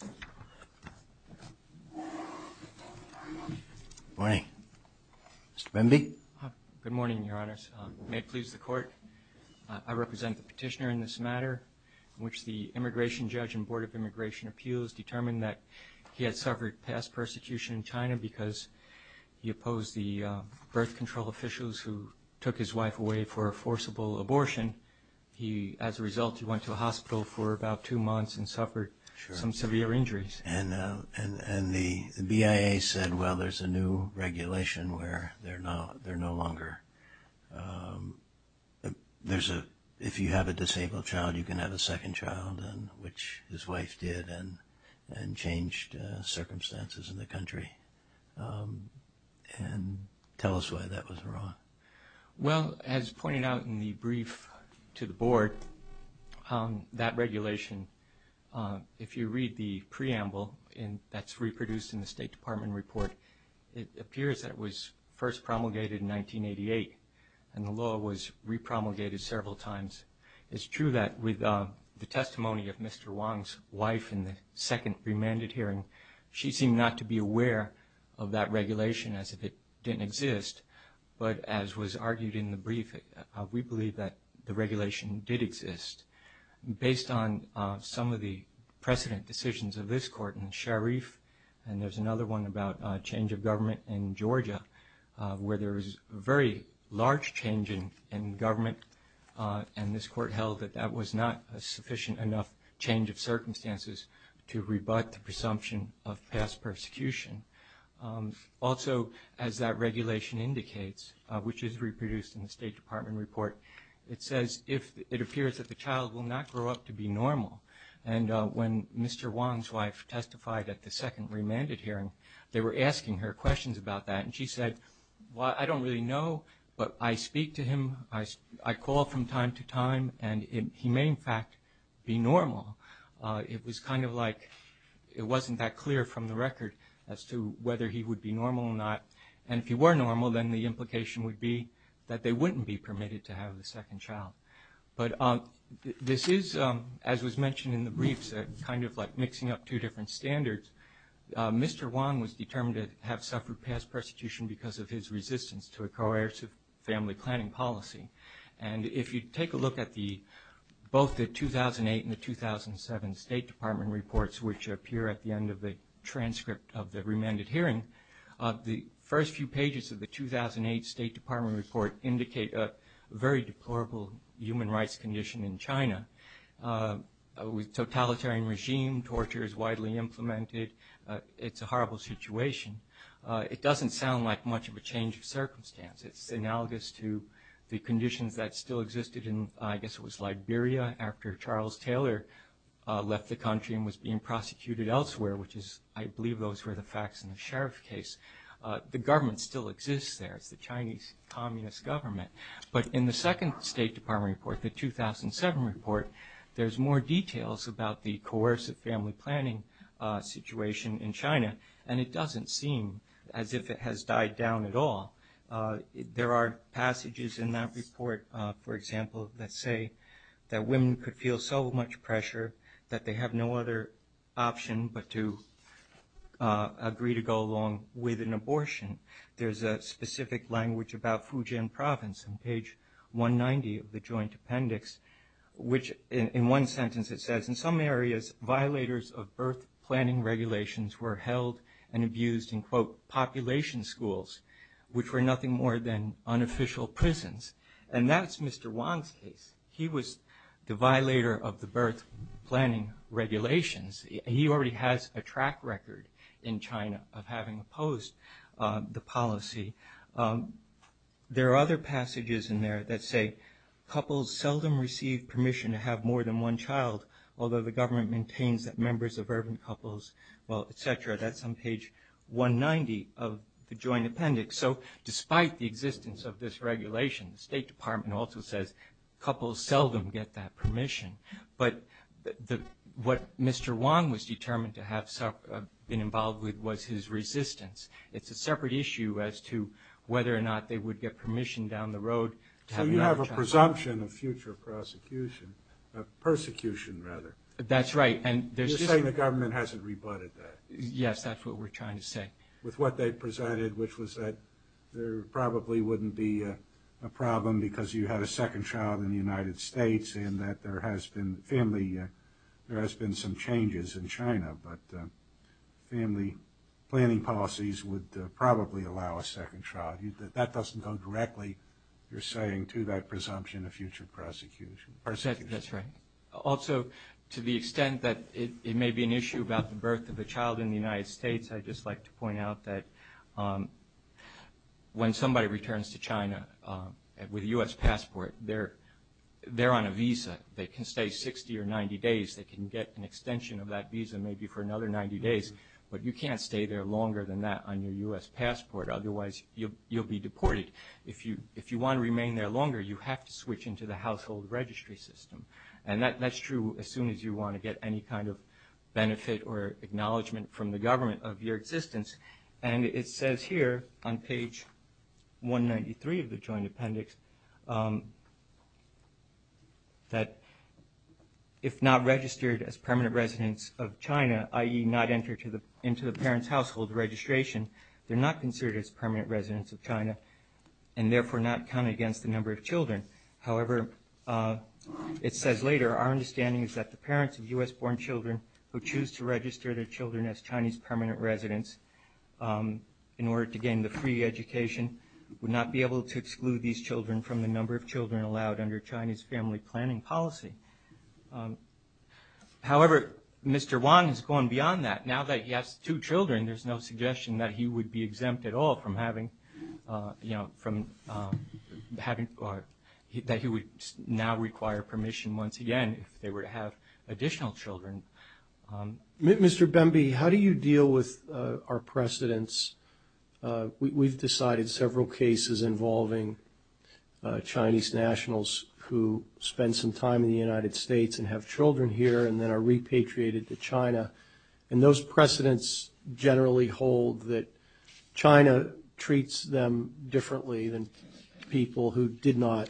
Good morning. Mr. Bemby. Good morning, Your Honors. May it please the Court, I represent the petitioner in this matter in which the Immigration Judge and Board of Immigration Appeals determined that he had suffered past persecution in China because he opposed the birth control officials who took his wife away for a forcible abortion. He, as a result, went to a hospital for about two months and suffered some severe injuries. And the BIA said, well, there's a new regulation where they're no longer, if you have a disabled child, you can have a second child, which his wife did and changed circumstances in the country. And tell us why that was wrong. Well, as pointed out in the brief to the Board, that regulation, if you read the preamble that's reproduced in the State Department report, it appears that it was first promulgated in 1988 and the law was re-promulgated several times. It's true that with the testimony of Mr. Wong's wife in the second remanded hearing, she seemed not to be aware of that regulation as if it didn't exist. But as was argued in the brief, we believe that the regulation did exist. Based on some of the precedent decisions of this Court in Sharif, and there's another one about change of government in Georgia, where there was a very large change in government and this Court held that that was not a sufficient enough change of circumstances to rebut the presumption of past persecution. Also, as that regulation indicates, which is reproduced in the State Department report, it says if it appears that the child will not grow up to be normal. And when Mr. Wong's wife testified at the second remanded hearing, they were asking her questions about that and she said, well, I don't really know, but I speak to him, I call from time to time, and he may in fact be on the record as to whether he would be normal or not. And if he were normal, then the implication would be that they wouldn't be permitted to have a second child. But this is, as was mentioned in the briefs, kind of like mixing up two different standards. Mr. Wong was determined to have suffered past persecution because of his resistance to a coercive family planning policy. And if you take a look at both the 2008 and the 2007 State Department reports, which appear at the end of the transcript of the remanded hearing, the first few pages of the 2008 State Department report indicate a very deplorable human rights condition in China. A totalitarian regime, torture is widely implemented, it's a horrible situation. It doesn't sound like much of a change of circumstance. It's analogous to the conditions that still existed in, I guess it was Liberia, after Charles Taylor left the country and was being prosecuted elsewhere, which is, I believe those were the facts in the sheriff's case. The government still exists there, it's the Chinese Communist government. But in the second State Department report, the 2007 report, there's more details about the coercive family planning situation in China, and it doesn't seem as if it has died down at all. There are passages in that report, for example, that say that women could feel so much pressure that they have no other option but to agree to go along with an abortion. There's a specific language about Fujian province on page 190 of the joint appendix, which in one sentence it says, in some areas, violators of birth planning regulations were held and abused in, quote, population schools, which were nothing more than unofficial prisons. And that's Mr. Wang's case. He was the violator of the birth planning regulations. He already has a track record in China of having opposed the policy. There are other passages in there that say, couples seldom receive permission to have more than one child, although the government maintains that members of urban couples, well, et cetera, that's on page 190 of the joint appendix. So despite the existence of this regulation, the State Department also says, couples seldom get that permission. But what Mr. Wang was determined to have been involved with was his resistance. It's a separate issue as to whether or not they would get permission down the road to have another child. So you have a presumption of future prosecution. Persecution, rather. That's right. You're saying the government hasn't rebutted that. Yes, that's what we're trying to say. With what they presided, which was that there probably wouldn't be a problem because you had a second child in the United States and that there has been family, there has been some changes in China, but family planning policies would probably allow a second child. That doesn't go directly, you're saying, to that presumption of future prosecution. That's right. Also, to the extent that it may be an issue about the birth of a child in the United States, I'd just like to point out that when somebody returns to China with a U.S. passport, they're on a visa. They can stay 60 or 90 days. They can get an extension of that visa maybe for another 90 days. But you can't stay there longer than that on your U.S. passport. Otherwise, you'll be deported. If you want to remain there longer, you have to switch into the household registry system. And that's true as soon as you want to get any kind of benefit or acknowledgement from the government of your existence. And it says here on page 193 of the Joint Appendix that if not registered as permanent residents of China, i.e. not entered into the parent's household registration, they're not considered as permanent residents of China, and therefore not counted against the number of children. However, it says later, our understanding is that the parents of U.S.-born children who choose to register their children as Chinese permanent residents in order to gain the free education would not be able to exclude these children from the number of children allowed under Chinese family planning policy. However, Mr. Wang has gone beyond that. Now that he has two children, there's no suggestion that he would be stopped from having, that he would now require permission once again if they were to have additional children. Mr. Bemby, how do you deal with our precedents? We've decided several cases involving Chinese nationals who spend some time in the United States and have children here and then are repatriated to China. And those precedents generally hold that China treats them differently than people who did not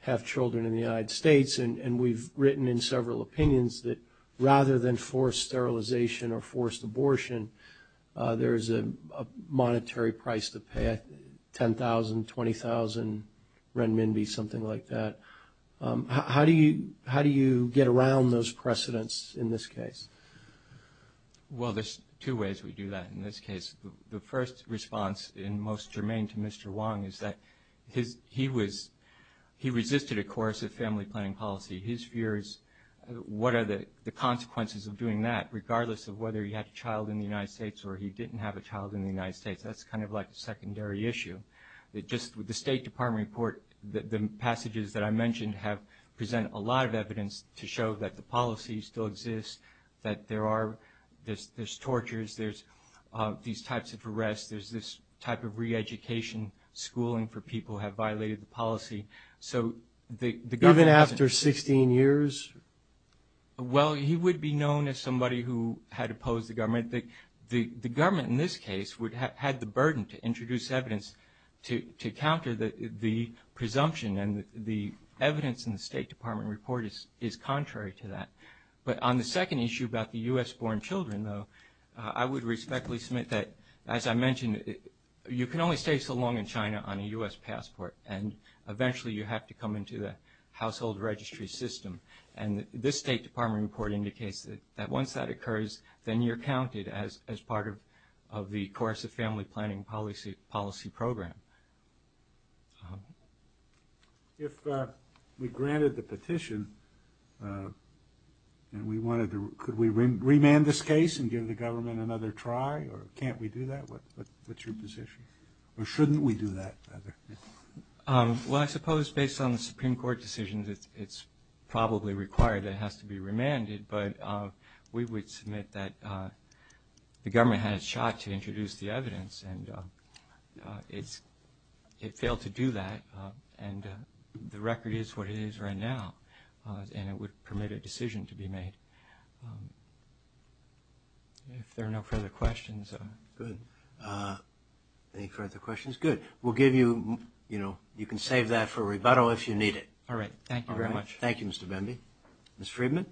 have children in the United States, and we've written in several opinions that rather than forced sterilization or forced abortion, there is a monetary price to pay – 10,000, 20,000 renminbi, something like that. How do you get around those precedents in this case? Well, there's two ways we do that in this case. The first response, and most germane to Mr. Wang, is that he was – he resisted a course of family planning policy. His fear is what are the consequences of doing that, regardless of whether he had a child in the United States or he didn't have a child in the United States. That's kind of like a secondary issue. Just with the State Department report, the passages that I mentioned have – present a lot of evidence to show that the policy still exists, that there are – there's tortures, there's these types of arrests, there's this type of reeducation, schooling for people who have violated the policy. So the government – Even after 16 years? Well, he would be known as somebody who had opposed the government. The government in this case would have had the burden to introduce evidence to counter the presumption, and the evidence in the State Department report is contrary to that. But on the second issue about the U.S.-born children, though, I would respectfully submit that, as I mentioned, you can only stay so long in China on a U.S. passport, and eventually you have to come into the household registry system. And this State Department report indicates that once that occurs, then you're counted as part of the course of family planning policy program. If we granted the petition and we wanted to – could we remand this case and give the government another try, or can't we do that? What's your position? Or shouldn't we do that, rather? Well, I suppose based on the Supreme Court decisions, it's probably required that it has to be remanded. But we would submit that the government had a shot to introduce the evidence, and it failed to do that. And the record is what it is right now, and it would permit a decision to be made. If there are no further questions. Good. Any further questions? Good. We'll give you – you can save that for rebuttal if you need it. All right. Thank you very much. Thank you, Mr. Bemby. Ms. Friedman?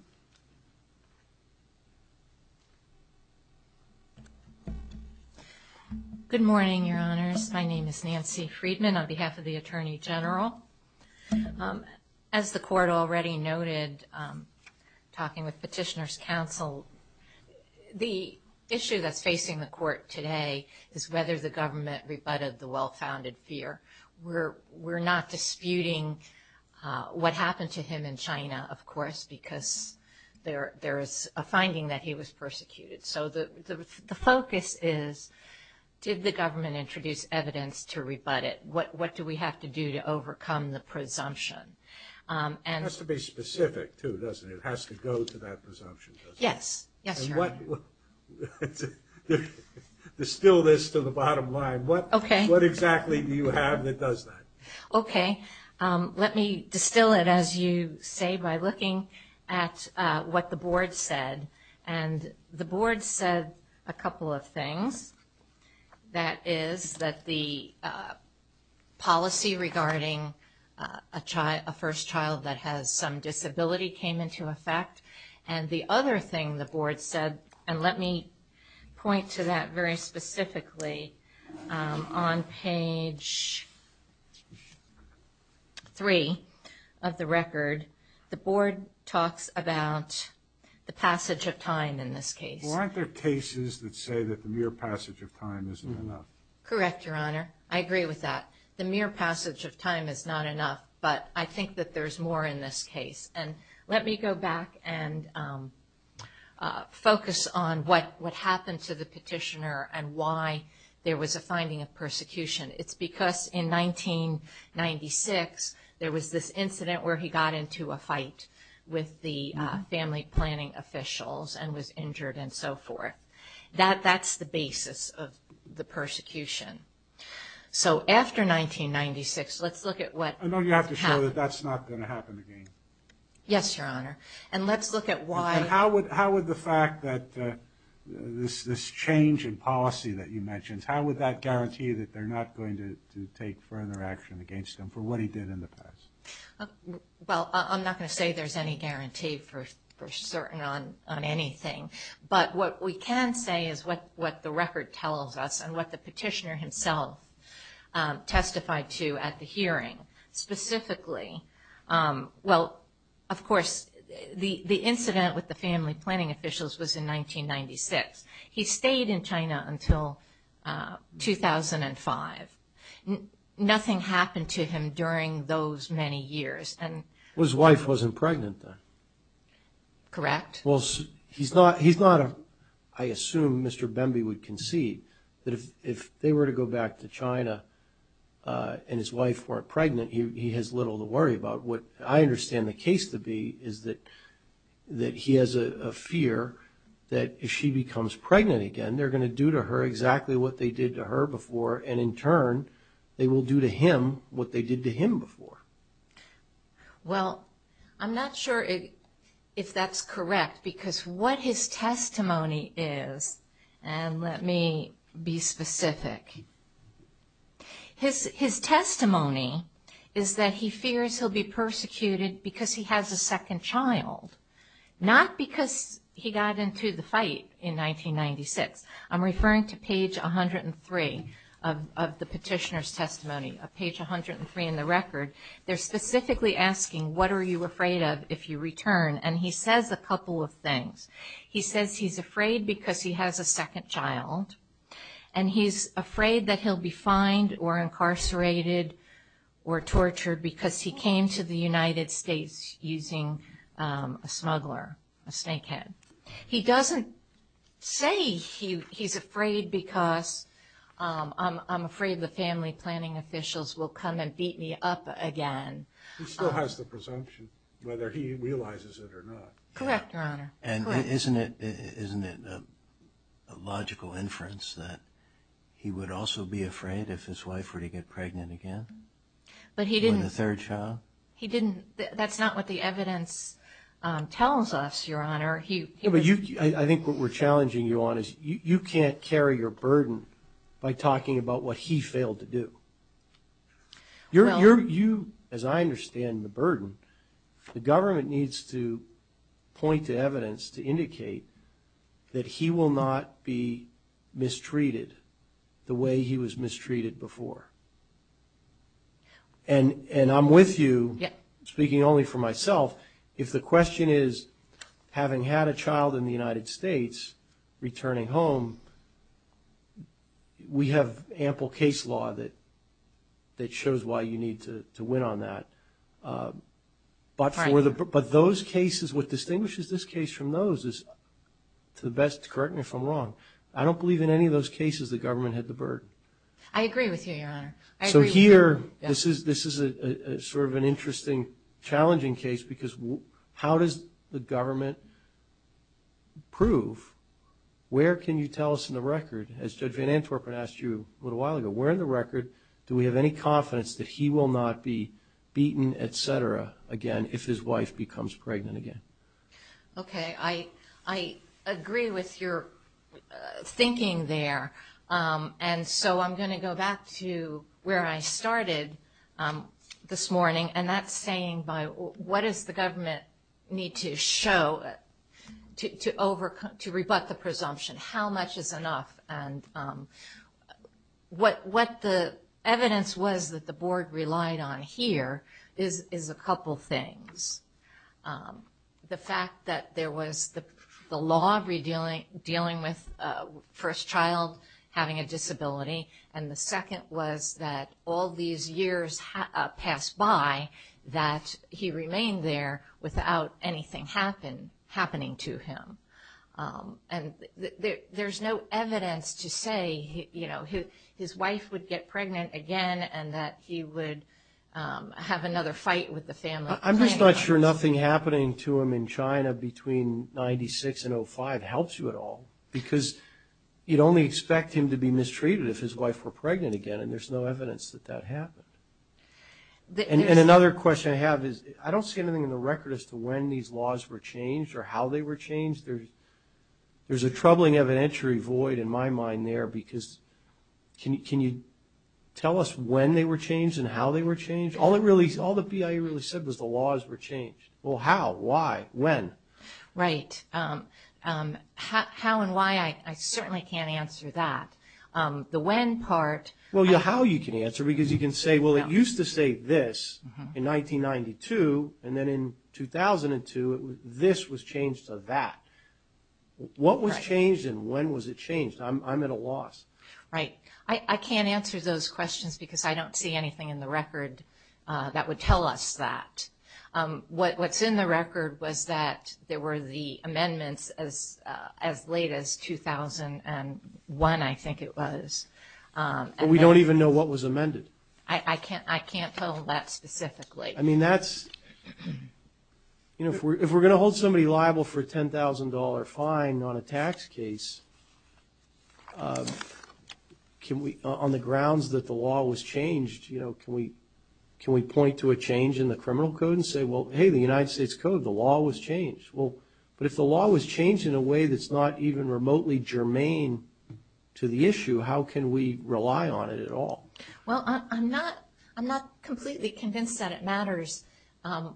Good morning, Your Honors. My name is Nancy Friedman on behalf of the Attorney General. As the Court already noted, talking with Petitioners' Counsel, the issue that's facing the Court today is whether the government rebutted the well-founded fear. We're not disputing what happened to him in China, of course, because there is a finding that he was persecuted. So the focus is, did the government introduce evidence to rebut it? What do we have to do to overcome the presumption? It has to be specific, too, doesn't it? It has to go to that presumption, doesn't it? Yes. Yes, Your Honor. Distill this to the bottom line. Okay. What exactly do you have that does that? Okay. Let me distill it, as you say, by looking at what the Board said. And the Board said a couple of things. That is, that the policy regarding a first child that has some disability came into effect. And the other thing the Board said, and let me point to that very specifically, on page 3 of the record, the Board talks about the passage of time in this case. Well, aren't there cases that say that the mere passage of time isn't enough? Correct, Your Honor. I agree with that. The mere passage of time is not enough, but I think that there's more in this case. And let me go back and focus on what happened to the petitioner and why there was a finding of persecution. It's because in 1996, there was this incident where he got into a fight with the family planning officials and was injured and so forth. That's the basis of the persecution. So after 1996, let's look at what happened. So that's not going to happen again? Yes, Your Honor. And let's look at why. And how would the fact that this change in policy that you mentioned, how would that guarantee that they're not going to take further action against him for what he did in the past? Well, I'm not going to say there's any guarantee for certain on anything. But what we can say is what the record tells us and what the petitioner himself testified to at the hearing, specifically, well, of course, the incident with the family planning officials was in 1996. He stayed in China until 2005. Nothing happened to him during those many years. Well, his wife wasn't pregnant then. Correct. Well, he's not, I assume Mr. Bemby would concede that if they were to go back to China and his wife weren't pregnant, he has little to worry about. What I understand the case to be is that he has a fear that if she becomes pregnant again, they're going to do to her exactly what they did to her before. And in turn, they will do to him what they did to him before. Well, I'm not sure if that's correct because what his testimony is, and let me be specific, his testimony is that he fears he'll be persecuted because he has a second child, not because he got into the fight in 1996. I'm referring to page 103 of the petitioner's testimony, page 103 in the record. They're specifically asking, what are you afraid of if you return? And he says a couple of things. He says he's afraid because he has a second child, and he's afraid that he'll be fined or incarcerated or tortured because he came to the United States using a smuggler, a snakehead. He doesn't say he's afraid because I'm afraid the family planning officials will come and beat me up again. He still has the presumption, whether he realizes it or not. Correct, Your Honor. And isn't it a logical inference that he would also be afraid if his wife were to get pregnant again? But he didn't. Or the third child? He didn't. That's not what the evidence tells us, Your Honor. I think what we're challenging you on is you can't carry your burden by talking about what he failed to do. As I understand the burden, the government needs to point to evidence to indicate that he will not be mistreated the way he was mistreated before. And I'm with you, speaking only for myself. If the question is, having had a child in the United States, returning home, we have ample case law that shows why you need to win on that. But those cases, what distinguishes this case from those is, to the best, correct me if I'm wrong, I don't believe in any of those cases the government had the burden. I agree with you, Your Honor. So here, this is sort of an interesting, challenging case, because how does the government prove, where can you tell us in the record, as Judge Van Antorp had asked you a little while ago, where in the record do we have any confidence that he will not be beaten, et cetera, again, if his wife becomes pregnant again? Okay, I agree with your thinking there. And so I'm going to go back to where I started this morning, and that's saying what does the government need to show to rebut the presumption? How much is enough? And what the evidence was that the Board relied on here is a couple things. The fact that there was the law dealing with first child having a disability, and the second was that all these years passed by that he remained there without anything happening to him. And there's no evidence to say, you know, his wife would get pregnant again and that he would have another fight with the family. I'm just not sure nothing happening to him in China between 96 and 05 helps you at all, because you'd only expect him to be mistreated if his wife were pregnant again, and there's no evidence that that happened. And another question I have is I don't see anything in the record as to when these laws were changed or how they were changed. There's a troubling evidentiary void in my mind there, because can you tell us when they were changed and how they were changed? All the BIA really said was the laws were changed. Well, how, why, when? Right. How and why, I certainly can't answer that. The when part... Well, how you can answer, because you can say, well, it used to say this in 1992, and then in 2002 this was changed to that. What was changed and when was it changed? I'm at a loss. Right. I can't answer those questions because I don't see anything in the record that would tell us that. What's in the record was that there were the amendments as late as 2001, I think it was. But we don't even know what was amended. I can't tell that specifically. I mean, that's, you know, if we're going to hold somebody liable for a $10,000 fine on a tax case, can we, on the grounds that the law was changed, you know, can we point to a change in the criminal code and say, well, hey, the United States Code, the law was changed. Well, but if the law was changed in a way that's not even remotely germane to the issue, how can we rely on it at all? Well, I'm not completely convinced that it matters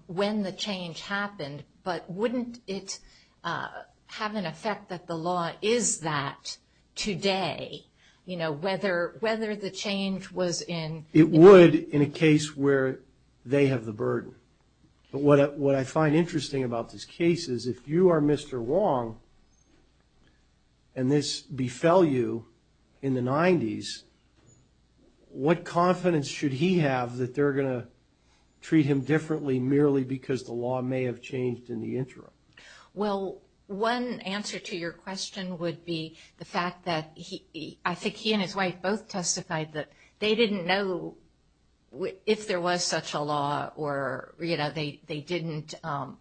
when the change happened, but wouldn't it have an effect that the law is that today, you know, whether the change was in... It would in a case where they have the burden. But what I find interesting about this case is if you are Mr. Wong and this befell you in the 90s, what confidence should he have that they're going to treat him differently merely because the law may have changed in the interim? Well, one answer to your question would be the fact that I think he and his wife both testified that they didn't know if there was such a law or, you know, they didn't...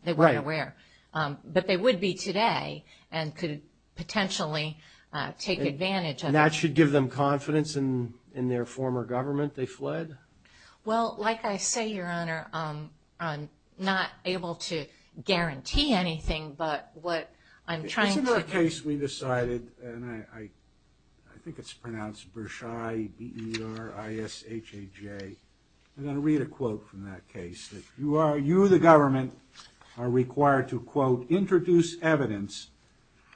They weren't aware. But they would be today and could potentially take advantage of it. And that should give them confidence in their former government? They fled? Well, like I say, Your Honor, I'm not able to guarantee anything, but what I'm trying to... In this case, we decided, and I think it's pronounced Bershai, B-E-R-I-S-H-A-J. I'm going to read a quote from that case. You, the government, are required to, quote, introduce evidence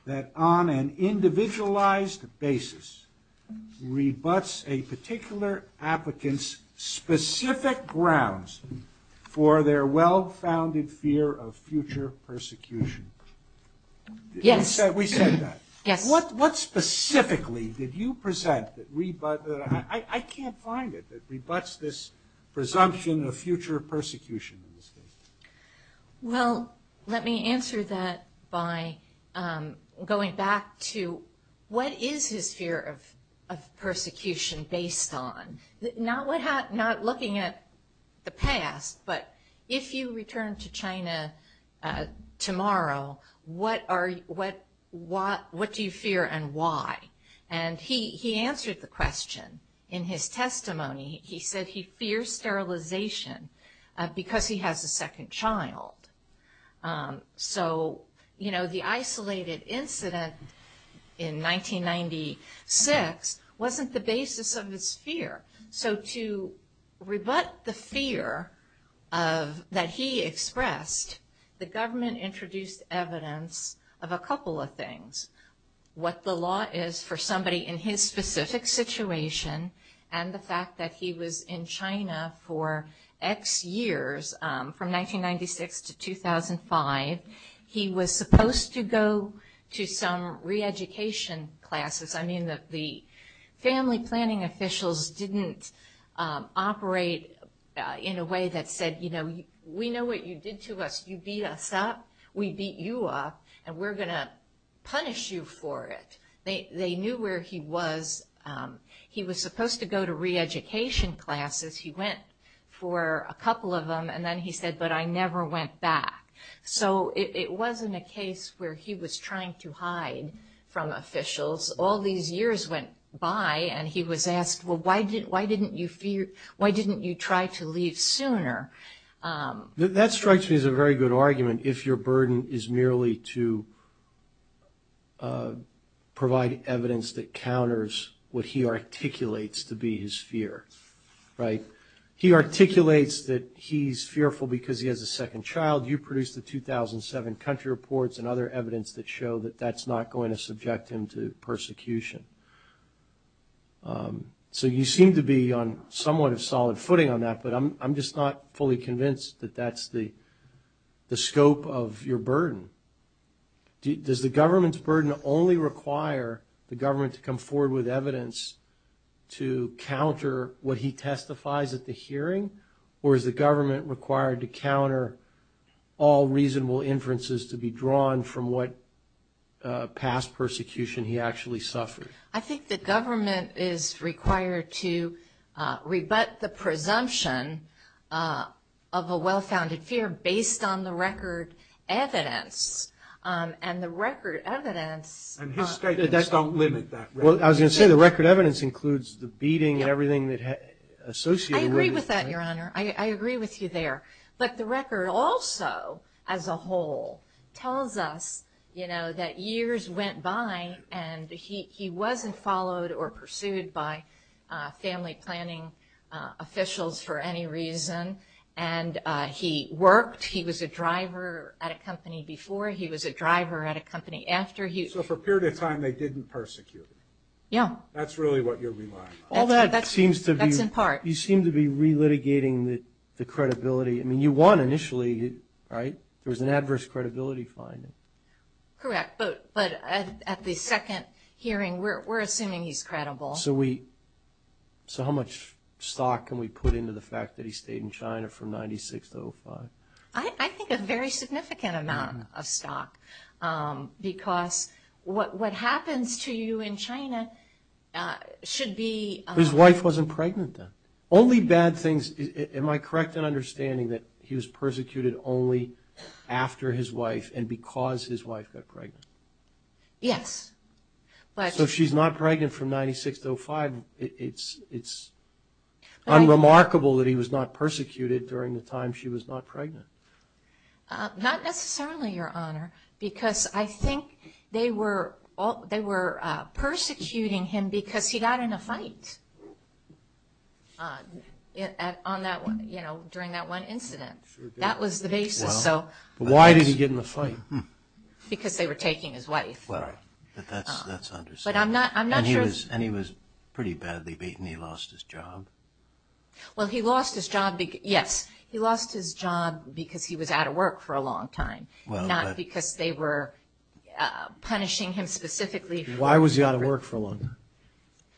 that on an individualized basis rebuts a particular applicant's specific grounds for their well-founded fear of future persecution. Yes. We said that. Yes. What specifically did you present that rebuts? I can't find it that rebuts this presumption of future persecution in this case. Well, let me answer that by going back to what is his fear of persecution based on? Not looking at the past, but if you return to China tomorrow, what do you fear and why? And he answered the question in his testimony. He said he fears sterilization because he has a second child. So, you know, the isolated incident in 1996 wasn't the basis of his fear. So to rebut the fear that he expressed, the government introduced evidence of a couple of things. What the law is for somebody in his specific situation, and the fact that he was in China for X years, from 1996 to 2005, he was supposed to go to some re-education classes. I mean, the family planning officials didn't operate in a way that said, you know, we know what you did to us. You beat us up. We beat you up, and we're going to punish you for it. They knew where he was. He was supposed to go to re-education classes. He went for a couple of them, and then he said, but I never went back. So it wasn't a case where he was trying to hide from officials. All these years went by, and he was asked, well, why didn't you try to leave sooner? That strikes me as a very good argument. If your burden is merely to provide evidence that counters what he articulates to be his fear, right? He articulates that he's fearful because he has a second child. You produced the 2007 country reports and other evidence that show that that's not going to subject him to persecution. So you seem to be on somewhat of solid footing on that, but I'm just not fully convinced that that's the scope of your burden. Does the government's burden only require the government to come forward with evidence to counter what he testifies at the hearing, or is the government required to counter all reasonable inferences to be drawn from what past persecution he actually suffered? I think the government is required to rebut the presumption of a well-founded fear based on the record evidence, and the record evidence- And his statements don't limit that record evidence. Well, I was going to say the record evidence includes the beating and everything associated with it. I agree with that, Your Honor. I agree with you there. But the record also, as a whole, tells us, you know, that years went by, and he wasn't followed or pursued by family planning officials for any reason. And he worked. He was a driver at a company before. He was a driver at a company after. So for a period of time, they didn't persecute him. Yeah. That's really what you're relying on. All that seems to be- That's in part. You seem to be relitigating the credibility. I mean, you won initially, right? There was an adverse credibility finding. Correct. But at the second hearing, we're assuming he's credible. So how much stock can we put into the fact that he stayed in China from 1996 to 2005? I think a very significant amount of stock because what happens to you in China should be- His wife wasn't pregnant then. Only bad things. Am I correct in understanding that he was persecuted only after his wife and because his wife got pregnant? Yes. So if she's not pregnant from 1996 to 2005, it's unremarkable that he was not persecuted during the time she was not pregnant. Not necessarily, Your Honor, because I think they were persecuting him because he got in a fight during that one incident. That was the basis. Why did he get in the fight? Because they were taking his wife. That's understandable. But I'm not sure- And he was pretty badly beaten. He lost his job. Well, he lost his job because he was out of work for a long time, not because they were punishing him specifically for- Why was he out of work for a long time?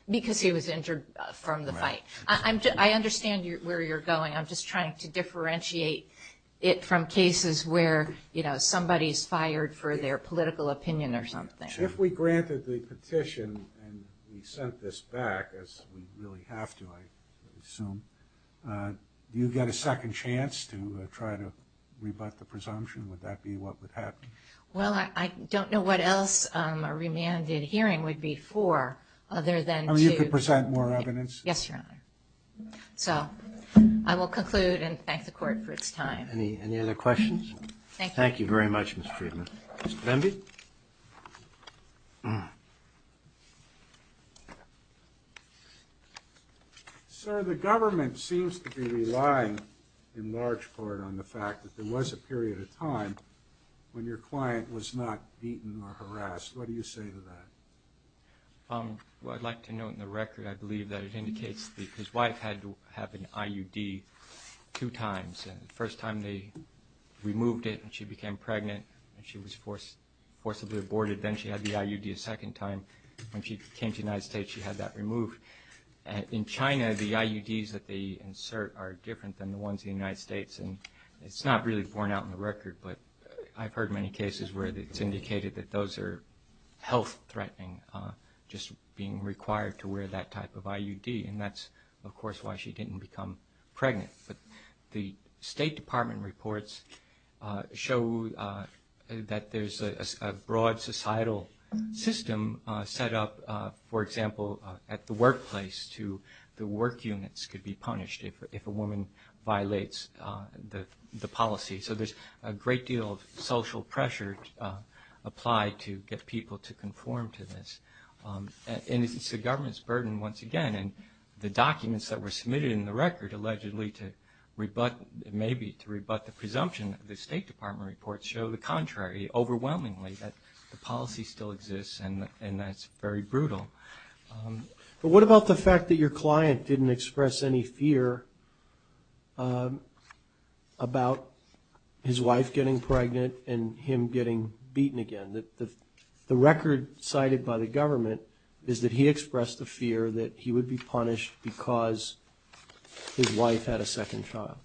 Because he was injured from the fight. I understand where you're going. I'm just trying to differentiate it from cases where, you know, somebody is fired for their political opinion or something. If we granted the petition and we sent this back, as we really have to, I assume, do you get a second chance to try to rebut the presumption? Would that be what would happen? Well, I don't know what else a remanded hearing would be for other than to- I mean, you could present more evidence. Yes, Your Honor. So I will conclude and thank the Court for its time. Any other questions? Thank you very much, Ms. Friedman. Mr. Bemby? Mr. Bemby? Sir, the government seems to be relying, in large part, on the fact that there was a period of time when your client was not beaten or harassed. What do you say to that? Well, I'd like to note in the record, I believe, that it indicates that his wife had to have an IUD two times. The first time they removed it and she became pregnant and she was forcibly aborted. Then she had the IUD a second time. When she came to the United States, she had that removed. In China, the IUDs that they insert are different than the ones in the United States, and it's not really borne out in the record, but I've heard many cases where it's indicated that those are health-threatening, just being required to wear that type of IUD, and that's, of course, why she didn't become pregnant. But the State Department reports show that there's a broad societal system set up, for example, at the workplace to the work units could be punished if a woman violates the policy. So there's a great deal of social pressure applied to get people to conform to this. And it's the government's burden, once again, and the documents that were submitted in the record allegedly to rebut, maybe to rebut the presumption of the State Department reports show the contrary, overwhelmingly that the policy still exists, and that's very brutal. But what about the fact that your client didn't express any fear about his wife getting pregnant and him getting beaten again? The record cited by the government is that he expressed the fear that he would be punished because his wife had a second child.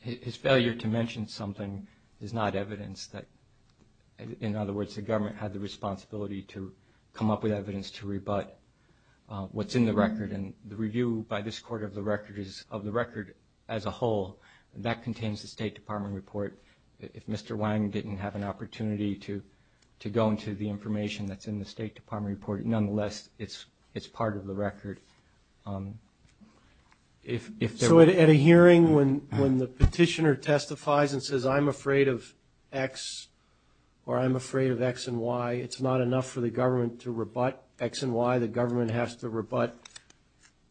His failure to mention something is not evidence that, in other words, the government had the responsibility to come up with evidence to rebut what's in the record. And the review by this Court of the record as a whole, that contains the State Department report. If Mr. Wang didn't have an opportunity to go into the information that's in the State Department report, nonetheless, it's part of the record. So at a hearing when the petitioner testifies and says, I'm afraid of X or I'm afraid of X and Y, it's not enough for the government to rebut X and Y? The government has to rebut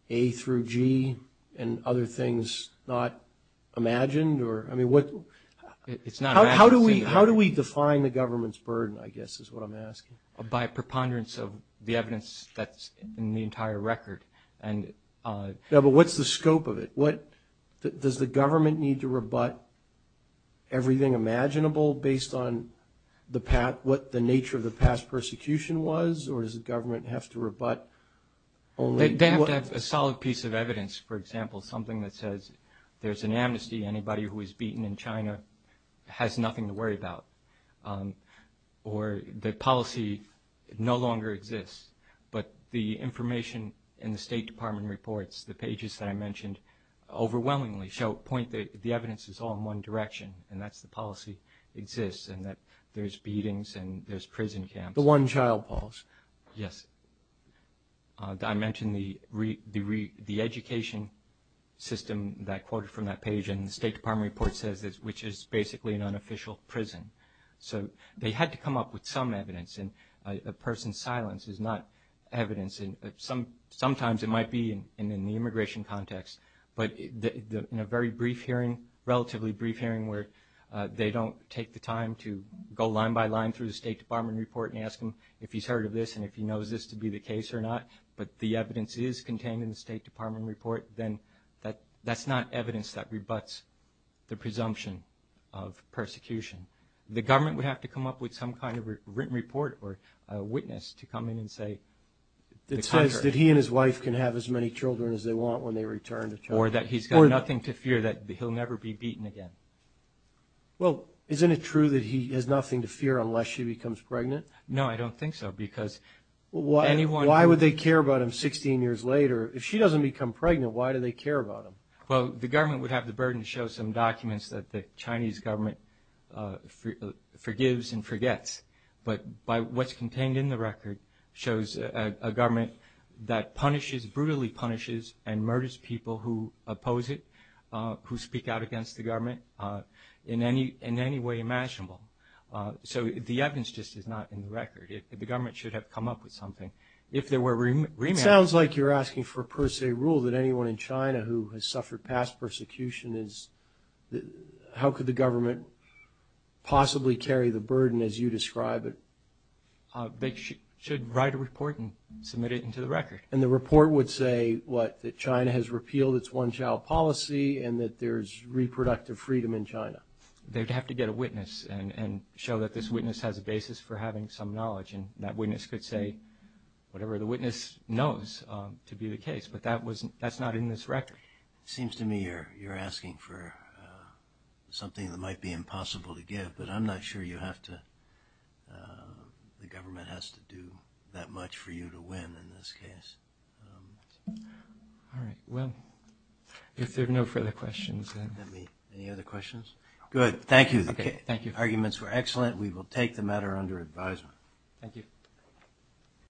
A through G and other things not imagined? It's not imagined. How do we define the government's burden, I guess is what I'm asking? By preponderance of the evidence that's in the entire record. Yeah, but what's the scope of it? Does the government need to rebut everything imaginable based on what the nature of the past persecution was, or does the government have to rebut only what? They have to have a solid piece of evidence, for example, something that says there's an amnesty, anybody who was beaten in China has nothing to worry about, or the policy no longer exists. But the information in the State Department reports, the pages that I mentioned, overwhelmingly point that the evidence is all in one direction, and that's the policy exists, and that there's beatings and there's prison camps. The one-child policy. Yes. I mentioned the education system that I quoted from that page, and the State Department report says this, which is basically an unofficial prison. So they had to come up with some evidence, and a person's silence is not evidence. Sometimes it might be in the immigration context, but in a very brief hearing, relatively brief hearing, where they don't take the time to go line by line through the State Department report and ask him if he's heard of this and if he knows this to be the case or not, but the evidence is contained in the State Department report, then that's not evidence that rebuts the presumption of persecution. The government would have to come up with some kind of written report or witness to come in and say the contrary. It says that he and his wife can have as many children as they want when they return to China. Or that he's got nothing to fear that he'll never be beaten again. Well, isn't it true that he has nothing to fear unless she becomes pregnant? No, I don't think so, because anyone... Why would they care about him 16 years later? If she doesn't become pregnant, why do they care about him? Well, the government would have the burden to show some documents that the Chinese government forgives and forgets. But what's contained in the record shows a government that brutally punishes and murders people who oppose it, who speak out against the government in any way imaginable. So the evidence just is not in the record. The government should have come up with something. If there were remand... It sounds like you're asking for a per se rule that anyone in China who has suffered past persecution is... How could the government possibly carry the burden as you describe it? They should write a report and submit it into the record. And the report would say what? That China has repealed its one-child policy and that there's reproductive freedom in China. They'd have to get a witness and show that this witness has a basis for having some knowledge. And that witness could say whatever the witness knows to be the case. But that's not in this record. It seems to me you're asking for something that might be impossible to give. But I'm not sure the government has to do that much for you to win in this case. All right. Well, if there are no further questions... Any other questions? Good. Thank you. The arguments were excellent. We will take the matter under advisement. Thank you.